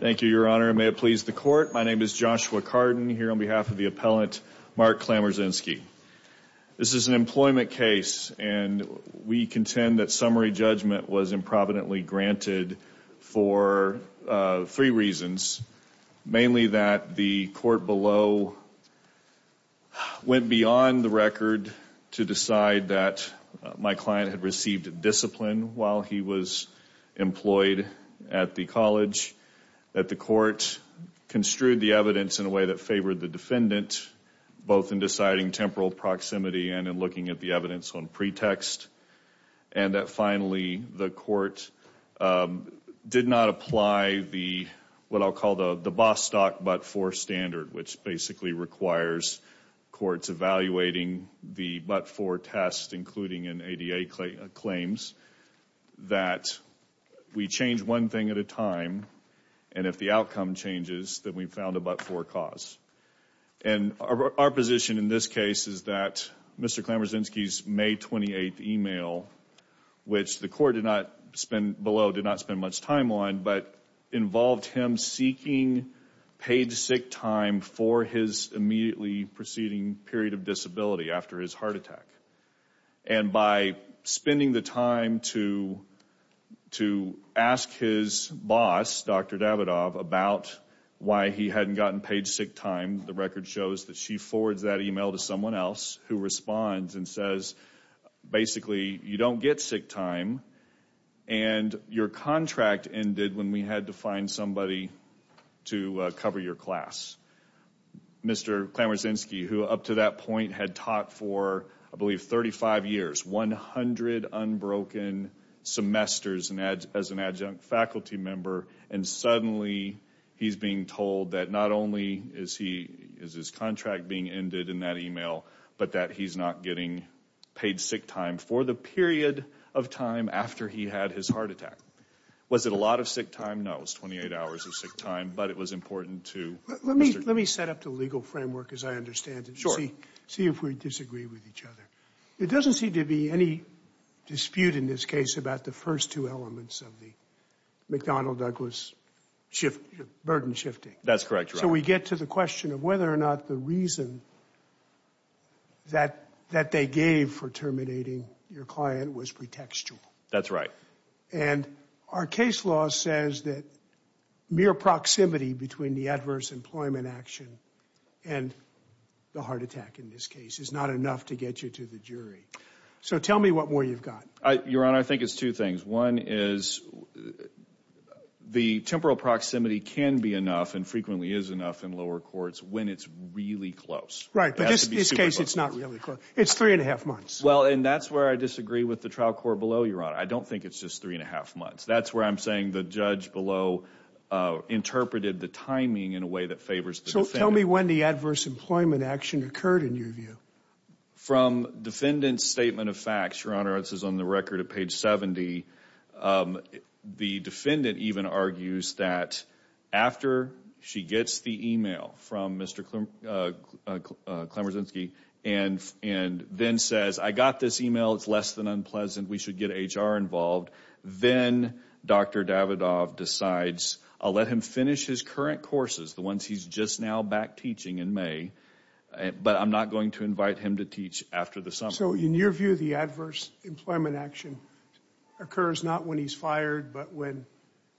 Thank you, Your Honor. May it please the court. My name is Joshua Cardin here on behalf of the appellant Mark Klamrzynski. This is an employment case and we contend that summary judgment was improvidently granted for three reasons. Mainly that the court below went beyond the record to decide that my client had was employed at the college, that the court construed the evidence in a way that favored the defendant both in deciding temporal proximity and in looking at the evidence on pretext, and that finally the court did not apply the what I'll call the the Bostock but-for standard, which basically requires courts evaluating the but-for test, including in ADA claims, that we change one thing at a time and if the outcome changes that we found a but-for cause. And our position in this case is that Mr. Klamrzynski's May 28th email, which the court did not spend below, did not spend much time on, but involved him seeking paid sick time for his immediately preceding period of disability after his heart attack. And by spending the time to to ask his boss, Dr. Davidoff, about why he hadn't gotten paid sick time, the record shows that she forwards that email to someone else who responds and says, basically, you don't get sick time and your contract ended when we had to find somebody to cover your class. Mr. Klamrzynski, who up to that point had taught for, I believe, 35 years, 100 unbroken semesters as an adjunct faculty member, and suddenly he's being told that not only is his contract being ended in that period of time after he had his heart attack. Was it a lot of sick time? No, it was 28 hours of sick time, but it was important to... Let me set up the legal framework, as I understand it, to see if we disagree with each other. It doesn't seem to be any dispute in this case about the first two elements of the McDonnell-Douglas shift, burden shifting. That's correct. So we get to the question of whether or not the reason that they gave for terminating your client was pretextual. That's right. And our case law says that mere proximity between the adverse employment action and the heart attack, in this case, is not enough to get you to the jury. So tell me what more you've got. Your Honor, I think it's two things. One is the temporal proximity can be enough and frequently is enough in lower courts when it's really close. Right, but in this case it's not really close. It's three and a half months. Well, and that's where I disagree with the trial court below, Your Honor. I don't think it's just three and a half months. That's where I'm saying the judge below interpreted the timing in a way that favors the defendant. So tell me when the adverse employment action occurred in your view. From defendant's statement of facts, Your Honor, this is on the record at page 70, the defendant even argues that after she gets the email from Mr. Klemersinski and then says, I got this email. It's less than unpleasant. We should get HR involved. Then Dr. Davidoff decides, I'll let him finish his current courses, the ones he's just now back teaching in May, but I'm not going to invite him to teach after the summer. So in your view, the adverse employment action occurs not when he's fired, but when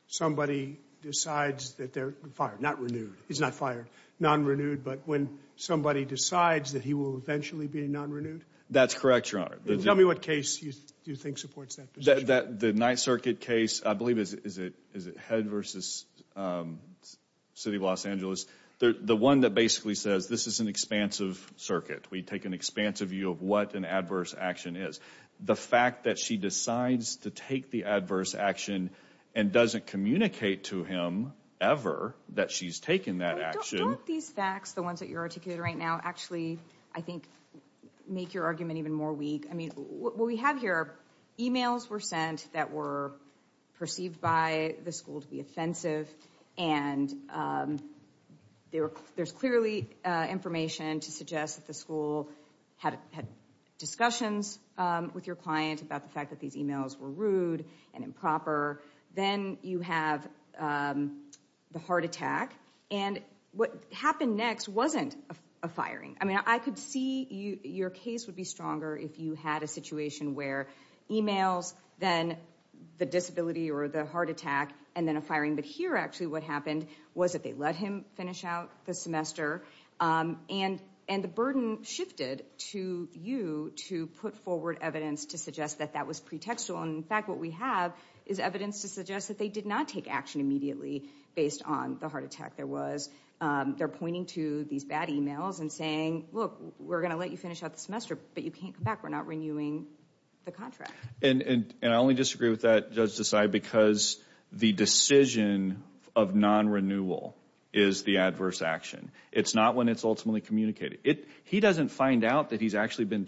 somebody decides that they're fired, not renewed. He's not fired, non-renewed, but when somebody decides that he will eventually be non-renewed? That's correct, Your Honor. Tell me what case you think supports that position. The Ninth Circuit case, I believe is it Head v. City of Los Angeles? The one that basically says this is an expansive circuit. We take an expansive view of what an adverse action is. The fact that she decides to take the adverse action and doesn't communicate to him ever that she's taken that action. Don't these facts, the ones that you're articulating right now, actually, I think, make your argument even more weak? I mean, what we have here, emails were sent that were perceived by the school to be offensive and there's clearly information to suggest that the school had discussions with your client about the fact that these emails were sent. Then you have the heart attack and what happened next wasn't a firing. I mean, I could see your case would be stronger if you had a situation where emails, then the disability or the heart attack, and then a firing. But here, actually, what happened was that they let him finish out the semester and the burden shifted to you to put forward evidence to suggest that that was pretextual. In fact, what we have is evidence to suggest that they did not take action immediately based on the heart attack there was. They're pointing to these bad emails and saying, look, we're gonna let you finish out the semester, but you can't come back. We're not renewing the contract. And I only disagree with that, Judge Desai, because the decision of non-renewal is the adverse action. It's not when it's ultimately communicated. He doesn't find out that he's actually been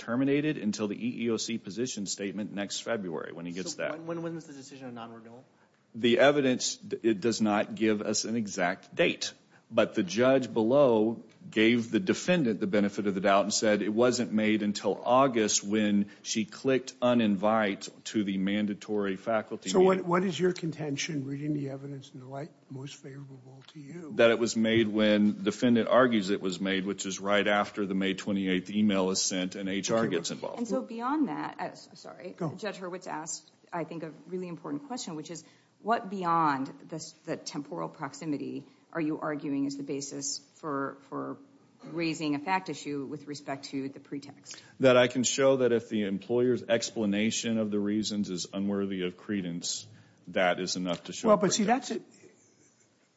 The evidence, it does not give us an exact date, but the judge below gave the defendant the benefit of the doubt and said it wasn't made until August when she clicked uninvite to the mandatory faculty meeting. So what is your contention reading the evidence in the light most favorable to you? That it was made when defendant argues it was made, which is right after the May 28th email is sent and HR gets involved. And so beyond that, Judge Hurwitz asked, I think, a really important question, which is what beyond the temporal proximity are you arguing is the basis for raising a fact issue with respect to the pretext? That I can show that if the employer's explanation of the reasons is unworthy of credence, that is enough to show pretext. Well, but see that's it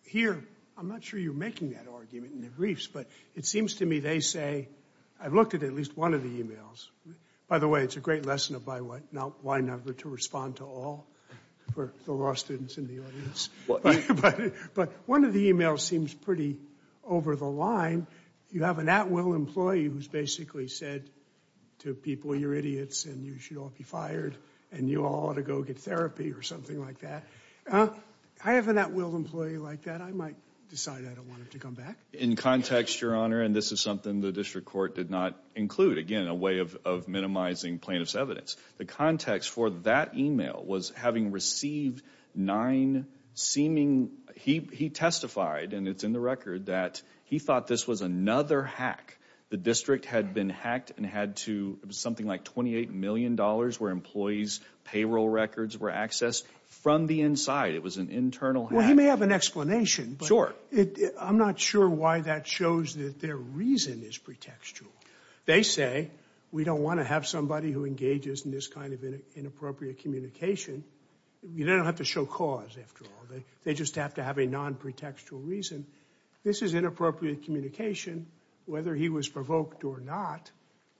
here. I'm not sure you're making that argument in the briefs, but it seems to me they say I've looked at at least one of the emails. By the way, it's a great lesson of by what not one number to respond to all for the law students in the audience. But one of the emails seems pretty over the line. You have an at-will employee who's basically said to people, you're idiots and you should all be fired and you all ought to go get therapy or something like that. I have an at-will employee like that. I might decide I don't want him to come back. In context, Your Honor, and this is not include, again, a way of minimizing plaintiff's evidence. The context for that email was having received nine seeming, he testified and it's in the record, that he thought this was another hack. The district had been hacked and had to, it was something like 28 million dollars where employees payroll records were accessed from the inside. It was an internal hack. Well, he may have an explanation, but I'm not sure why that shows that their reason is pretextual. They say, we don't want to have somebody who engages in this kind of inappropriate communication. You don't have to show cause, after all. They just have to have a non-pretextual reason. This is inappropriate communication. Whether he was provoked or not,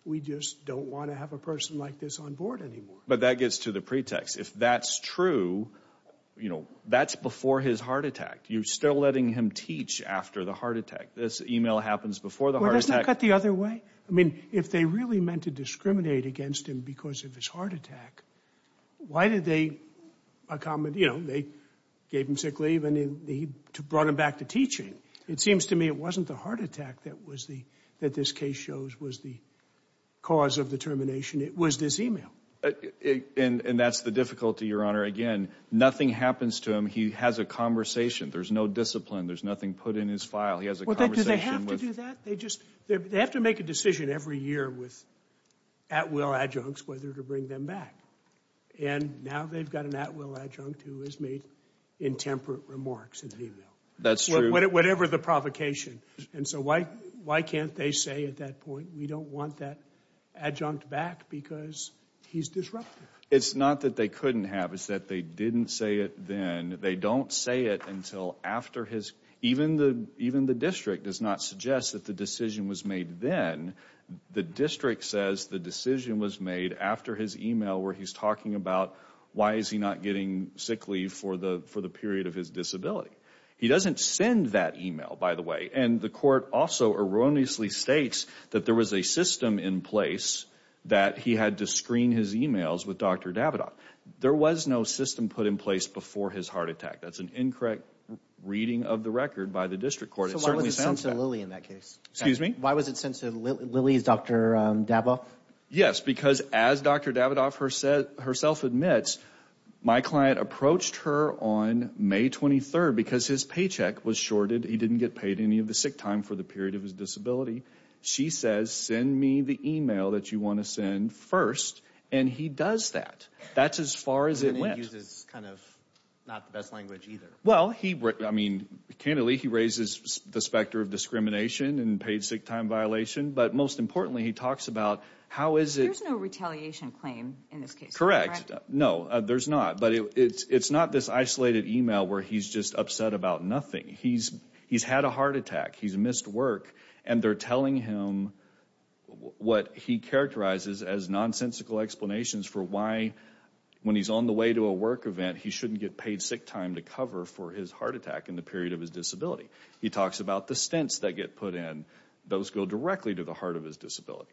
we just don't want to have a person like this on board anymore. But that gets to the pretext. If that's true, you know, that's before his heart attack. You're still letting him teach after the heart attack? Doesn't that cut the other way? I mean, if they really meant to discriminate against him because of his heart attack, why did they, by common, you know, they gave him sick leave and he brought him back to teaching. It seems to me it wasn't the heart attack that was the, that this case shows was the cause of the termination. It was this email. And that's the difficulty, Your Honor. Again, nothing happens to him. He has a conversation. There's no discipline. There's nothing put in his file. He has a conversation. Well, do they have to do that? They just, they have to make a decision every year with at-will adjuncts whether to bring them back. And now they've got an at-will adjunct who has made intemperate remarks in the email. That's true. Whatever the provocation. And so why, why can't they say at that point, we don't want that adjunct back because he's disruptive? It's not that they couldn't have. It's that they didn't say it then. They don't say it until after his, even the, even the district does not suggest that the decision was made then. The district says the decision was made after his email where he's talking about why is he not getting sick leave for the for the period of his disability. He doesn't send that email, by the way. And the court also erroneously states that there was a system in place that he had to screen his emails with Dr. Davidoff. There was no system put in place before his heart attack. That's an incorrect reading of the record by the district court. It certainly sounds that way. So why was it sent to Lilly in that case? Excuse me? Why was it sent to Lilly's Dr. Davidoff? Yes, because as Dr. Davidoff herself admits, my client approached her on May 23rd because his paycheck was shorted. He didn't get paid any of the sick time for the period of his and he does that. That's as far as it went. Well, he, I mean, candidly, he raises the specter of discrimination and paid sick time violation. But most importantly, he talks about how is it... There's no retaliation claim in this case. Correct. No, there's not. But it's, it's not this isolated email where he's just upset about nothing. He's, he's had a heart attack. He's missed work and they're telling him what he characterizes as nonsensical explanations for why, when he's on the way to a work event, he shouldn't get paid sick time to cover for his heart attack in the period of his disability. He talks about the stints that get put in. Those go directly to the heart of his disability.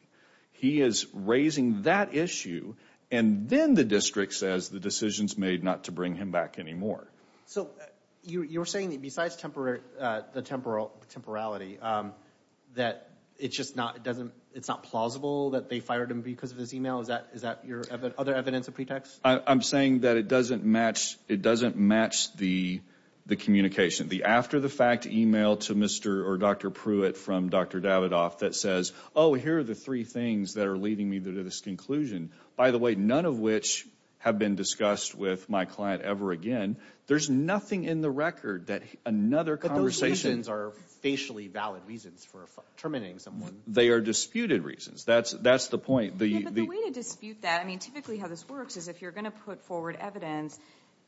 He is raising that issue and then the district says the decision's made not to bring him back anymore. So you're saying that besides temporary, the temporal, temporality, that it's just not, it doesn't, it's not plausible that they fired him because of this email? Is that, is that your other evidence of pretext? I'm saying that it doesn't match, it doesn't match the, the communication. The after-the-fact email to Mr. or Dr. Pruitt from Dr. Davidoff that says, oh, here are the three things that are leading me to this conclusion. By the way, none of which have been discussed with my client ever again. There's nothing in the record that another conversation... But those valid reasons for terminating someone. They are disputed reasons. That's, that's the point. The way to dispute that, I mean, typically how this works is if you're gonna put forward evidence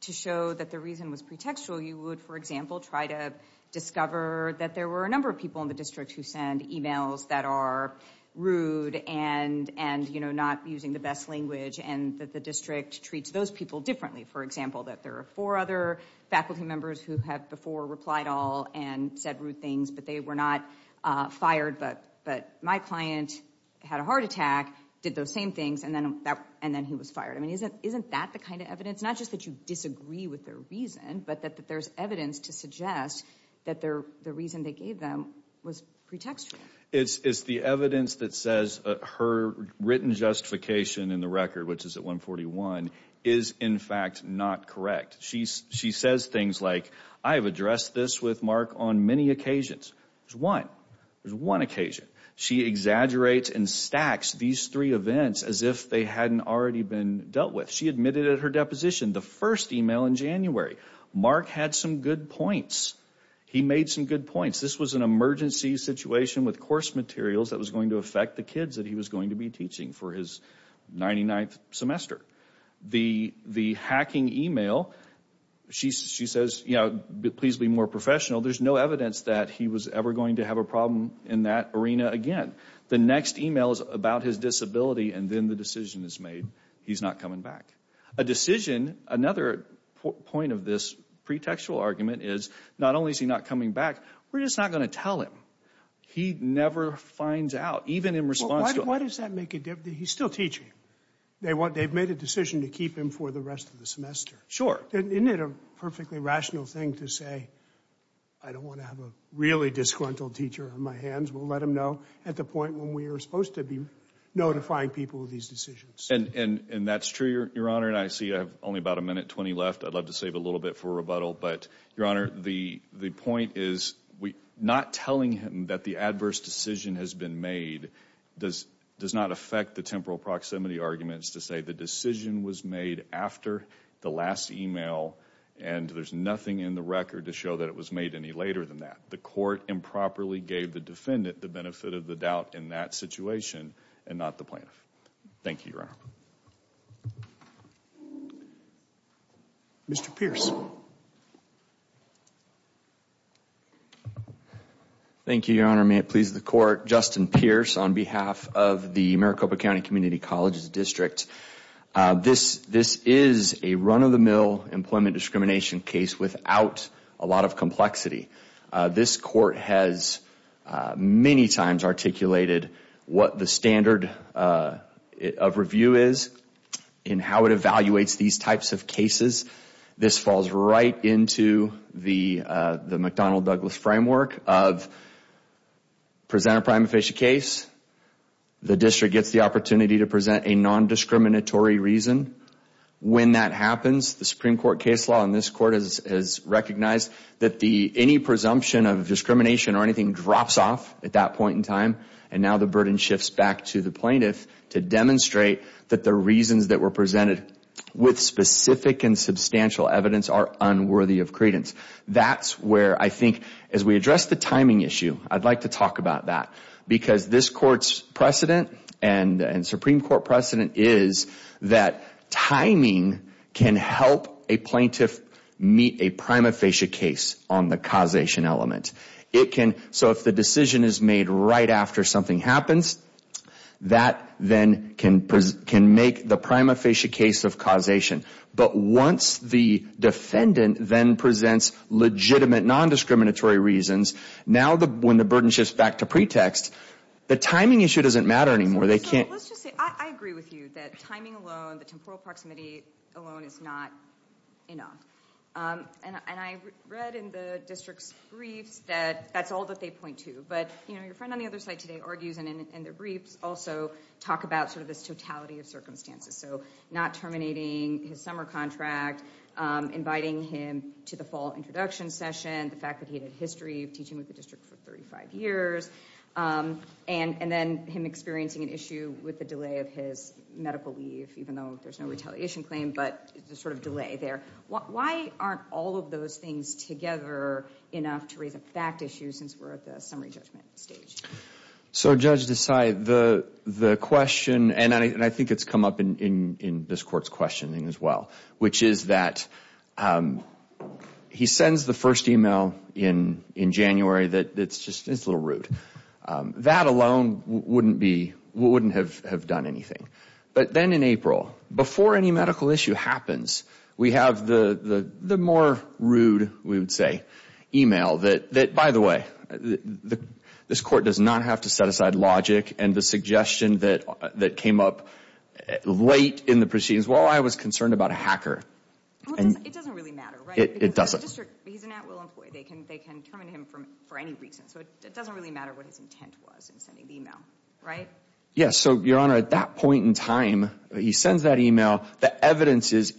to show that the reason was pretextual, you would, for example, try to discover that there were a number of people in the district who send emails that are rude and, and, you know, not using the best language and that the district treats those people differently. For example, that there are four other faculty members who have before replied all and said rude things but they were not fired, but, but my client had a heart attack, did those same things, and then that, and then he was fired. I mean, isn't, isn't that the kind of evidence? Not just that you disagree with their reason, but that there's evidence to suggest that their, the reason they gave them was pretextual. It's, it's the evidence that says her written justification in the record, which is at 141, is in fact not correct. She's, she says things like, I have three occasions. There's one, there's one occasion. She exaggerates and stacks these three events as if they hadn't already been dealt with. She admitted at her deposition, the first email in January, Mark had some good points. He made some good points. This was an emergency situation with course materials that was going to affect the kids that he was going to be teaching for his 99th semester. The, the hacking email, she, she says, you know, please be more professional. There's no evidence that he was ever going to have a problem in that arena again. The next email is about his disability, and then the decision is made. He's not coming back. A decision, another point of this pretextual argument is, not only is he not coming back, we're just not going to tell him. He never finds out, even in response to... Why does that make a difference? He's still teaching. They want, they've made a decision to keep him for the rest of the I don't want to have a really disgruntled teacher on my hands. We'll let him know at the point when we are supposed to be notifying people of these decisions. And, and, and that's true, your, your honor, and I see I have only about a minute 20 left. I'd love to save a little bit for rebuttal, but your honor, the, the point is we not telling him that the adverse decision has been made does, does not affect the temporal proximity arguments to say the decision was made after the last email, and there's nothing in the record to show that it was made any later than that. The court improperly gave the defendant the benefit of the doubt in that situation, and not the plaintiff. Thank you, your honor. Mr. Pierce. Thank you, your honor. May it please the court, Justin Pierce on behalf of the is a run of the mill employment discrimination case without a lot of complexity. This court has many times articulated what the standard of review is and how it evaluates these types of cases. This falls right into the McDonnell-Douglas framework of present a prima facie case. The district gets the opportunity to present a when that happens, the Supreme Court case law in this court has recognized that the any presumption of discrimination or anything drops off at that point in time. And now the burden shifts back to the plaintiff to demonstrate that the reasons that were presented with specific and substantial evidence are unworthy of credence. That's where I think as we address the timing issue, I'd like to talk about that because this court's precedent and timing can help a plaintiff meet a prima facie case on the causation element. It can. So if the decision is made right after something happens, that then can can make the prima facie case of causation. But once the defendant then presents legitimate non discriminatory reasons now, when the burden shifts back to pretext, the timing issue doesn't matter anymore. Let's just say I agree with you that timing alone, the temporal proximity alone is not enough. And I read in the district's briefs that that's all that they point to. But you know, your friend on the other side today argues in their briefs also talk about sort of this totality of circumstances. So not terminating his summer contract, inviting him to the fall introduction session, the fact that he had a history of teaching with the district for 35 years, that's not an issue with the delay of his medical leave, even though there's no retaliation claim, but the sort of delay there. Why aren't all of those things together enough to raise a fact issue since we're at the summary judgment stage? So Judge Desai, the question, and I think it's come up in this court's questioning as well, which is that he sends the first email in and it wouldn't have done anything. But then in April, before any medical issue happens, we have the more rude, we would say, email that, by the way, this court does not have to set aside logic and the suggestion that came up late in the proceedings. Well, I was concerned about a hacker. It doesn't really matter, right? It doesn't. He's an at-will employee. They can terminate him for any reason. So it doesn't really matter what his intent was in sending the email, right? Yes. So, Your Honor, at that point in time, he sends that email. The evidence is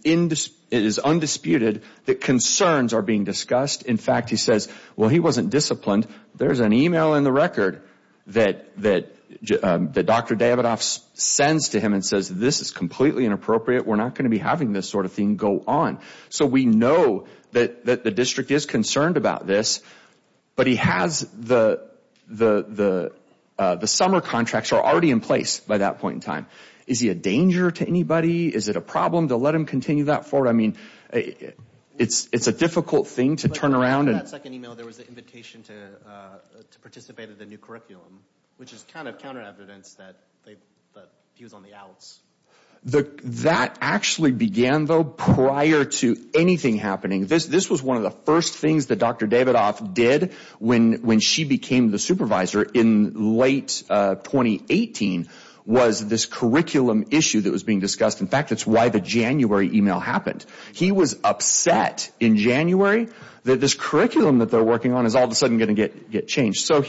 undisputed that concerns are being discussed. In fact, he says, well, he wasn't disciplined. There's an email in the record that Dr. Davidoff sends to him and says this is completely inappropriate. We're not going to be having this sort of thing go on. So we know that the district is concerned about this, but he has the summer contracts are already in place by that point in time. Is he a danger to anybody? Is it a problem to let him continue that forward? I mean, it's a difficult thing to turn around. In that second email, there was an invitation to participate in the new curriculum, which is kind of counter evidence that he was on the outs. That actually began, though, prior to anything happening. This was one of the first things that Dr. Davidoff did when she became the supervisor in late 2018 was this curriculum issue that was being discussed. In fact, that's why the January email happened. He was upset in January that this curriculum that they're working on is all of a sudden going to get changed. So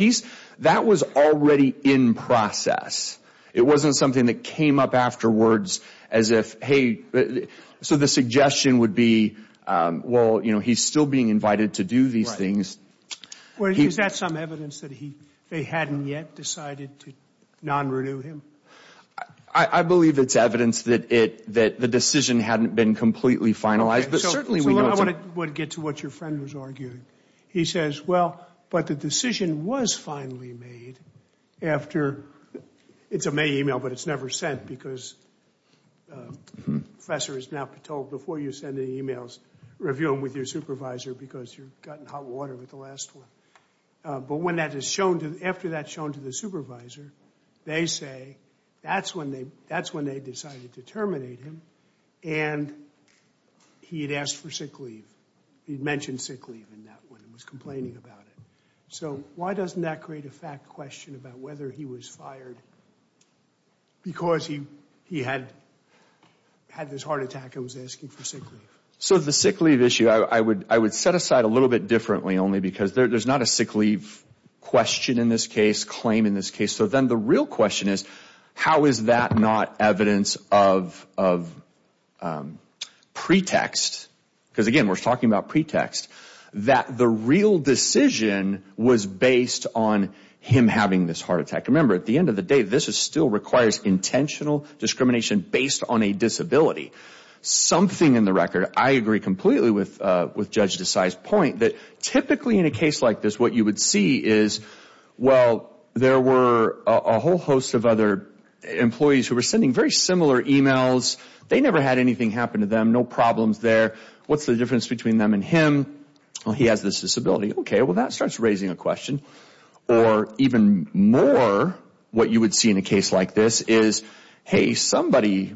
that was already in process. It wasn't something that came up afterwards as if, hey, so the suggestion would be, well, he's still being invited to do these things. Is that some evidence that they hadn't yet decided to non-renew him? I believe it's evidence that the decision hadn't been completely finalized. I want to get to what your friend was arguing. He says, well, but the decision was finally made after, it's a May email, but it's never sent because the professor is now told before you send the emails, review them with your supervisor because you got in hot water with the last one. But when that is shown to, after that's shown to the supervisor, they say that's when they decided to terminate him and he had asked for sick leave. He had mentioned sick leave in that one and was complaining about it. So why doesn't that create a fact question about whether he was fired because he had this heart attack and was asking for sick leave? So the sick leave issue, I would set aside a little bit differently only because there's not a sick leave question in this case, claim in this case. So then the real question is, how is that not evidence of pretext? Because again, we're talking about pretext, that the real decision was based on him having this heart attack. Remember, at the end of the day, this still requires intentional discrimination based on a disability. Something in the record, I agree completely with Judge Desai's point that typically in a case like this, what you would see is, well, there were a whole host of other employees who were sending very similar emails. They never had anything happen to them. No problems there. What's the difference between them and him? Well, he has this disability. Okay, well, that starts raising a question. Or even more, what you would see in a case like this is, hey, somebody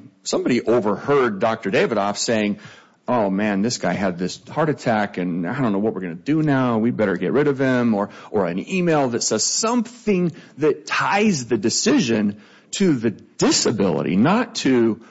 overheard Dr. Davidoff saying, oh man, this guy had this heart attack and I don't know what we're going to do now. We better get rid of him. Or an email that says something that ties the decision to the disability, not to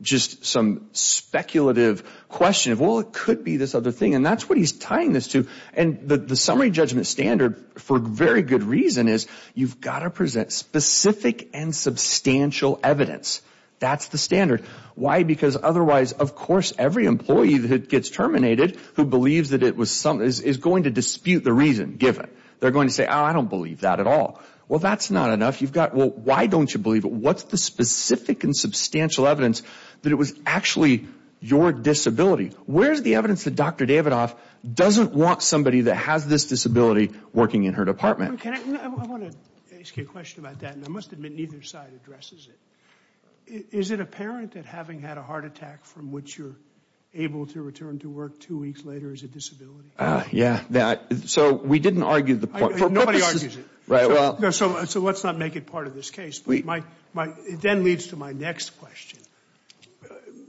just some speculative question of, well, it could be this other thing. And that's what he's tying this to. And the summary judgment standard, for very good reason, is you've got to present specific and substantial evidence. That's the standard. Why? Because otherwise, of course, every employee that gets terminated who believes that it was something is going to dispute the reason given. They're going to say, oh, I don't believe that at all. Well, that's not enough. You've got, well, why don't you believe it? What's the specific and substantial evidence that it was actually your disability? Where's the evidence that Dr. Davidoff doesn't want somebody that has this disability working in her department? I want to ask you a question about that. And I must admit, neither side addresses it. Is it apparent that having had a heart attack from which you're able to return to work two weeks later is a disability? Yeah. So we didn't argue the point. Nobody argues it. So let's not make it part of this case. It then leads to my next question.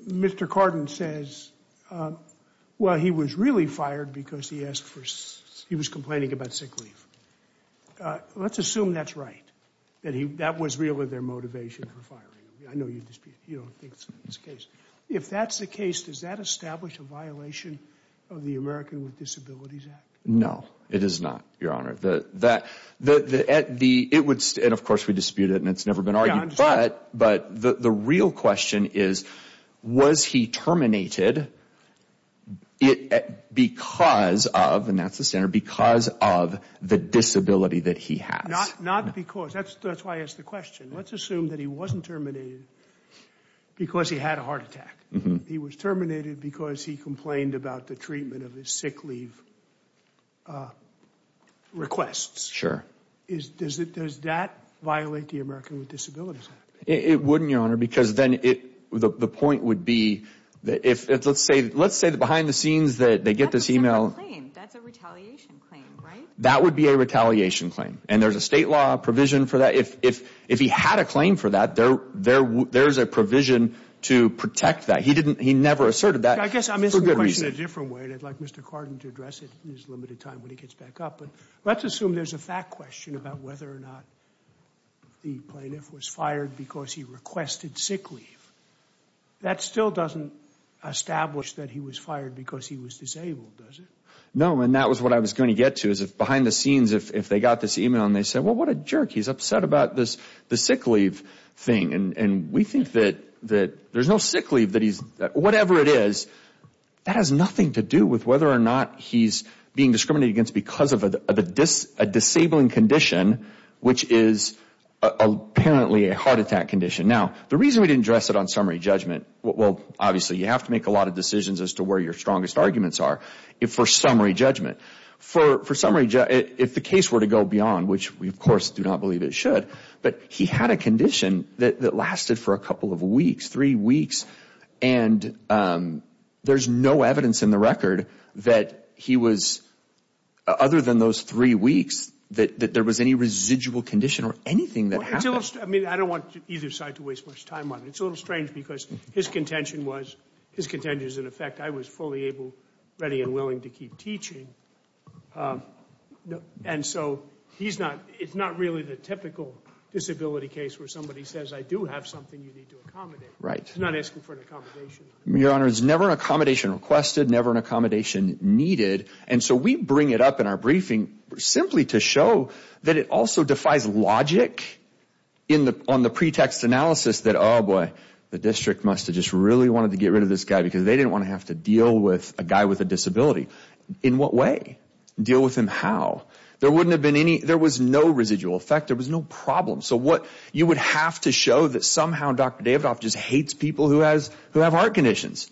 Mr. Cardin says, well, he was really fired because he was complaining about sick leave. Let's assume that's right, that that was really their motivation for firing him. I know you don't think that's the case. If that's the case, does that establish a violation of the American with Disabilities Act? No, it is not, Your Honor. And of course we dispute it and it's never been argued. But the real question is, was he terminated because of, and that's the standard, because of the disability that he has? Not because. That's why I asked the question. Let's assume that he wasn't terminated because he had a heart attack. He was terminated because he complained about the treatment of his sick leave requests. Sure. Does that violate the American with Disabilities Act? It wouldn't, Your Honor, because then the point would be, let's say behind the scenes that they get this email. That's a different claim. That's a retaliation claim, right? That would be a retaliation claim. And there's a state law provision for that. If he had a claim for that, there's a provision to protect that. He never asserted that for good reason. I guess I'm asking the question a different way, and I'd like Mr. Cardin to address it in his limited time when he gets back up. But let's assume there's a fact question about whether or not the plaintiff was fired because he requested sick leave. That still doesn't establish that he was fired because he was disabled, does it? No, and that was what I was going to get to, is if behind the scenes, if they got this email and they said, well, what a jerk. He's upset about this sick leave thing. And we think that there's no sick leave that he's, whatever it is, that has nothing to do with whether or not he's being discriminated against because of a disabling condition, which is apparently a heart attack condition. Now, the reason we didn't address it on summary judgment, well, obviously you have to make a lot of decisions as to where your strongest arguments are, for summary judgment. For summary judgment, if the case were to go beyond, which we, of course, do not believe it should, but he had a condition that lasted for a couple of weeks, three weeks, and there's no evidence in the record that he was, other than those three weeks, that there was any residual condition or anything that happened. I mean, I don't want either side to waste much time on it. It's a little strange because his contention was, his contention is, in effect, I was fully able, ready, and willing to keep teaching. And so he's not, it's not really the typical disability case where somebody says, I do have something you need to accommodate. He's not asking for an accommodation. Your Honor, it's never an accommodation requested, never an accommodation needed. And so we bring it up in our briefing simply to show that it also defies logic on the pretext analysis that, oh boy, the district must have just really wanted to get rid of this guy because they didn't want to have to deal with a guy with a disability. In what way? Deal with him how? There wouldn't have been any, there was no residual effect. There was no problem. So what you would have to show that somehow Dr. Davidoff just hates people who have heart conditions.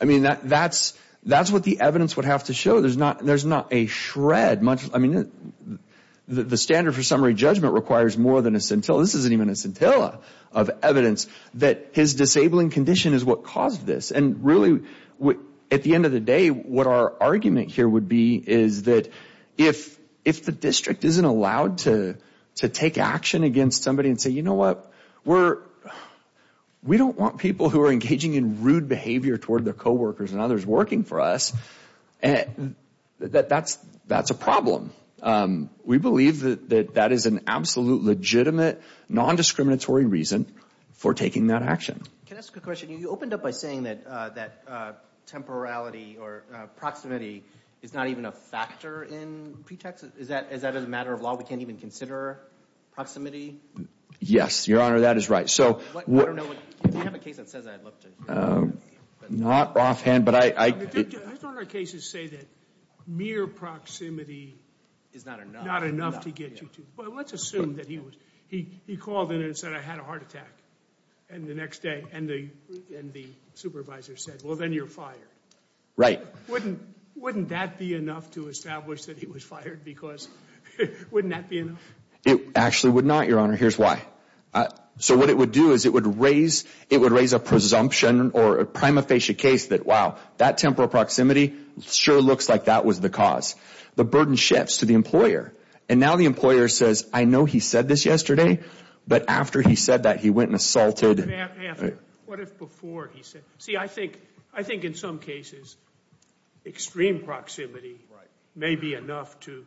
I mean, that's what the evidence would have to show. There's not a shred, much, I mean, the standard for summary judgment requires more than a scintilla. Well, this isn't even a scintilla of evidence that his disabling condition is what caused this. And really, at the end of the day, what our argument here would be is that if the district isn't allowed to take action against somebody and say, you know what, we don't want people who are engaging in rude behavior toward their coworkers and others working for us, that's a problem. We believe that that is an absolute legitimate, nondiscriminatory reason for taking that action. Can I ask a question? You opened up by saying that temporality or proximity is not even a factor in pretext. Is that a matter of law? We can't even consider proximity? Yes, Your Honor, that is right. If you have a case that says that, I'd love to hear it. I thought our cases say that mere proximity is not enough to get you to, well, let's assume that he was, he called in and said, I had a heart attack. And the next day, and the supervisor said, well, then you're fired. Right. Wouldn't that be enough to establish that he was fired because, wouldn't that be enough? It actually would not, Your Honor. Here's why. So what it would do is it would raise a presumption or a prima facie case that, wow, that temporal proximity sure looks like that was the cause. The burden shifts to the employer. And now the employer says, I know he said this yesterday, but after he said that, he went and assaulted. What if before he said? See, I think in some cases extreme proximity may be enough to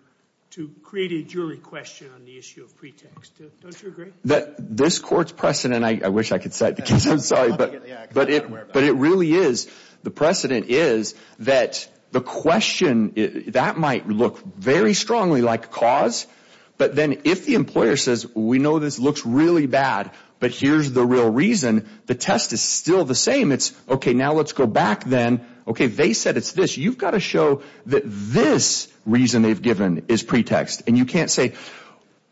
create a jury question on the issue of pretext. Don't you agree? This court's precedent, I wish I could cite the case, I'm sorry, but it really is, the precedent is that the question, that might look very strongly like cause, but then if the employer says, we know this looks really bad, but here's the real reason, the test is still the same, it's, okay, now let's go back then. Okay, they said it's this. You've got to show that this reason they've given is pretext. And you can't say,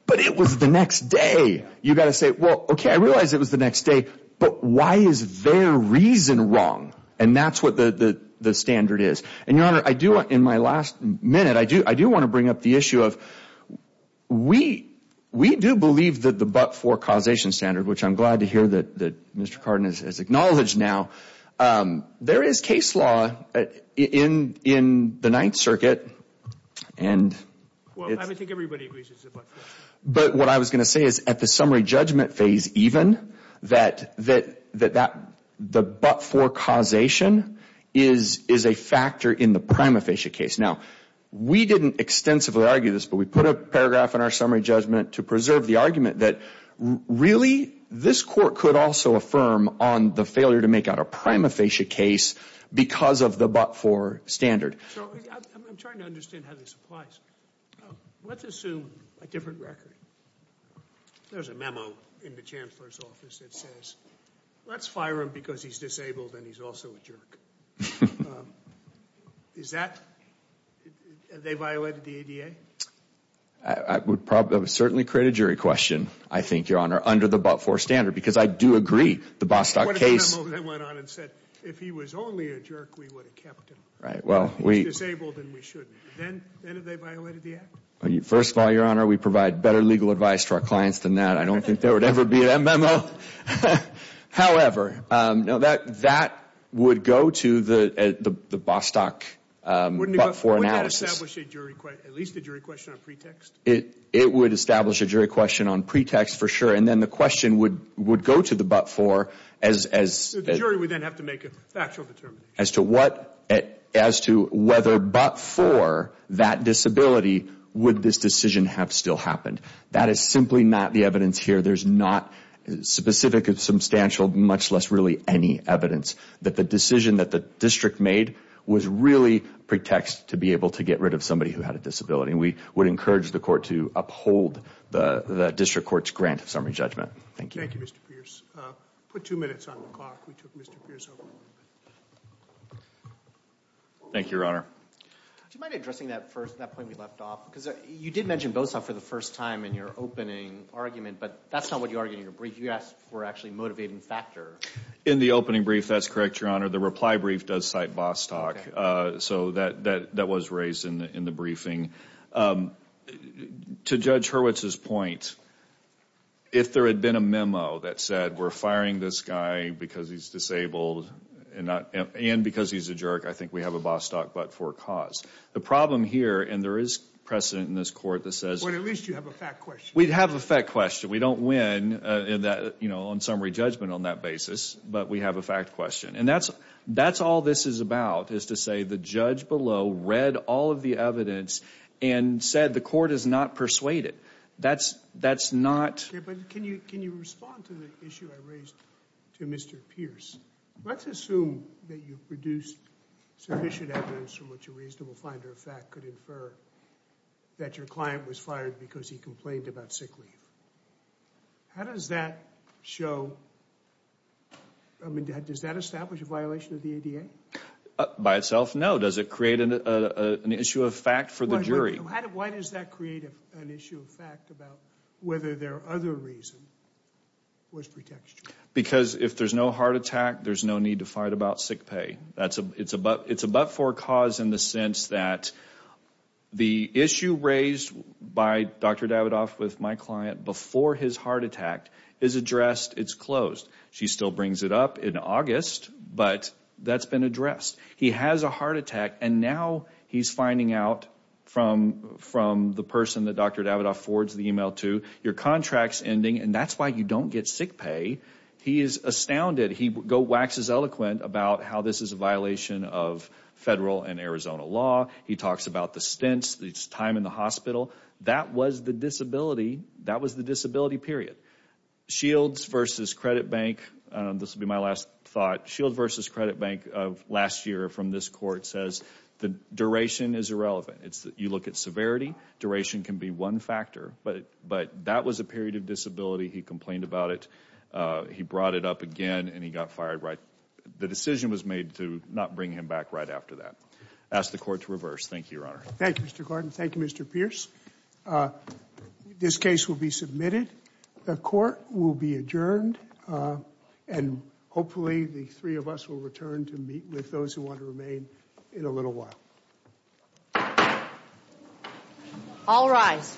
but it was the next day. You've got to say, well, okay, I realize it was the next day, but why is their reason wrong? And that's what the standard is. And, Your Honor, in my last minute, I do want to bring up the issue of we do believe that the but-for causation standard, which I'm glad to hear that Mr. Cardin has acknowledged now, there is case law in the Ninth Circuit. Well, I think everybody agrees it's a but-for. But what I was going to say is at the summary judgment phase even, that the but-for causation is a factor in the prima facie case. Now, we didn't extensively argue this, but we put a paragraph in our summary judgment to preserve the argument that really this court could also affirm on the failure to make out a prima facie case because of the but-for standard. So I'm trying to understand how this applies. Let's assume a different record. There's a memo in the Chancellor's office that says, let's fire him because he's disabled and he's also a jerk. Is that, have they violated the ADA? I would probably, I would certainly create a jury question, I think, Your Honor, under the but-for standard, because I do agree the Bostock case. What if the memo then went on and said, if he was only a jerk, we would have kept him? If he's disabled, then we shouldn't. Then have they violated the act? First of all, Your Honor, we provide better legal advice to our clients than that. I don't think there would ever be a memo. However, that would go to the Bostock but-for analysis. Wouldn't it establish at least a jury question on pretext? It would establish a jury question on pretext for sure. And then the question would go to the but-for. So the jury would then have to make a factual determination. As to what, as to whether but-for that disability, would this decision have still happened? That is simply not the evidence here. There's not specific or substantial, much less really any evidence, that the decision that the district made was really pretext to be able to get rid of somebody who had a disability. We would encourage the court to uphold the district court's grant of summary judgment. Thank you. Thank you, Mr. Pierce. Put two minutes on the clock. We took Mr. Pierce over. Thank you, Your Honor. Do you mind addressing that first, that point we left off? Because you did mention BOSOC for the first time in your opening argument, but that's not what you argued in your brief. You asked for actually a motivating factor. In the opening brief, that's correct, Your Honor. The reply brief does cite Bostock. So that was raised in the briefing. To Judge Hurwitz's point, if there had been a memo that said, we're firing this guy because he's disabled and because he's a jerk, I think we have a Bostock but-for cause. The problem here, and there is precedent in this court that says— Well, at least you have a fact question. We have a fact question. We don't win on summary judgment on that basis, but we have a fact question. And that's all this is about, is to say the judge below read all of the evidence and said the court is not persuaded. That's not— But can you respond to the issue I raised to Mr. Pierce? Let's assume that you produced sufficient evidence from which a reasonable finder of fact could infer that your client was fired because he complained about sick leave. How does that show—I mean, does that establish a violation of the ADA? By itself, no. Does it create an issue of fact for the jury? Why does that create an issue of fact about whether their other reason was protection? Because if there's no heart attack, there's no need to fight about sick pay. It's a but-for cause in the sense that the issue raised by Dr. Davidoff with my client before his heart attack is addressed. It's closed. She still brings it up in August, but that's been addressed. He has a heart attack, and now he's finding out from the person that Dr. Davidoff forwards the email to, your contract's ending, and that's why you don't get sick pay. He is astounded. He waxes eloquent about how this is a violation of federal and Arizona law. He talks about the stints, the time in the hospital. That was the disability. That was the disability period. Shields v. Credit Bank—this will be my last thought. Shields v. Credit Bank last year from this court says the duration is irrelevant. You look at severity. Duration can be one factor, but that was a period of disability. He complained about it. He brought it up again, and he got fired. The decision was made to not bring him back right after that. I ask the court to reverse. Thank you, Your Honor. Thank you, Mr. Gordon. Thank you, Mr. Pierce. This case will be submitted. The court will be adjourned, and hopefully the three of us will return to meet with those who want to remain in a little while. All rise.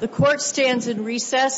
The court stands in recess.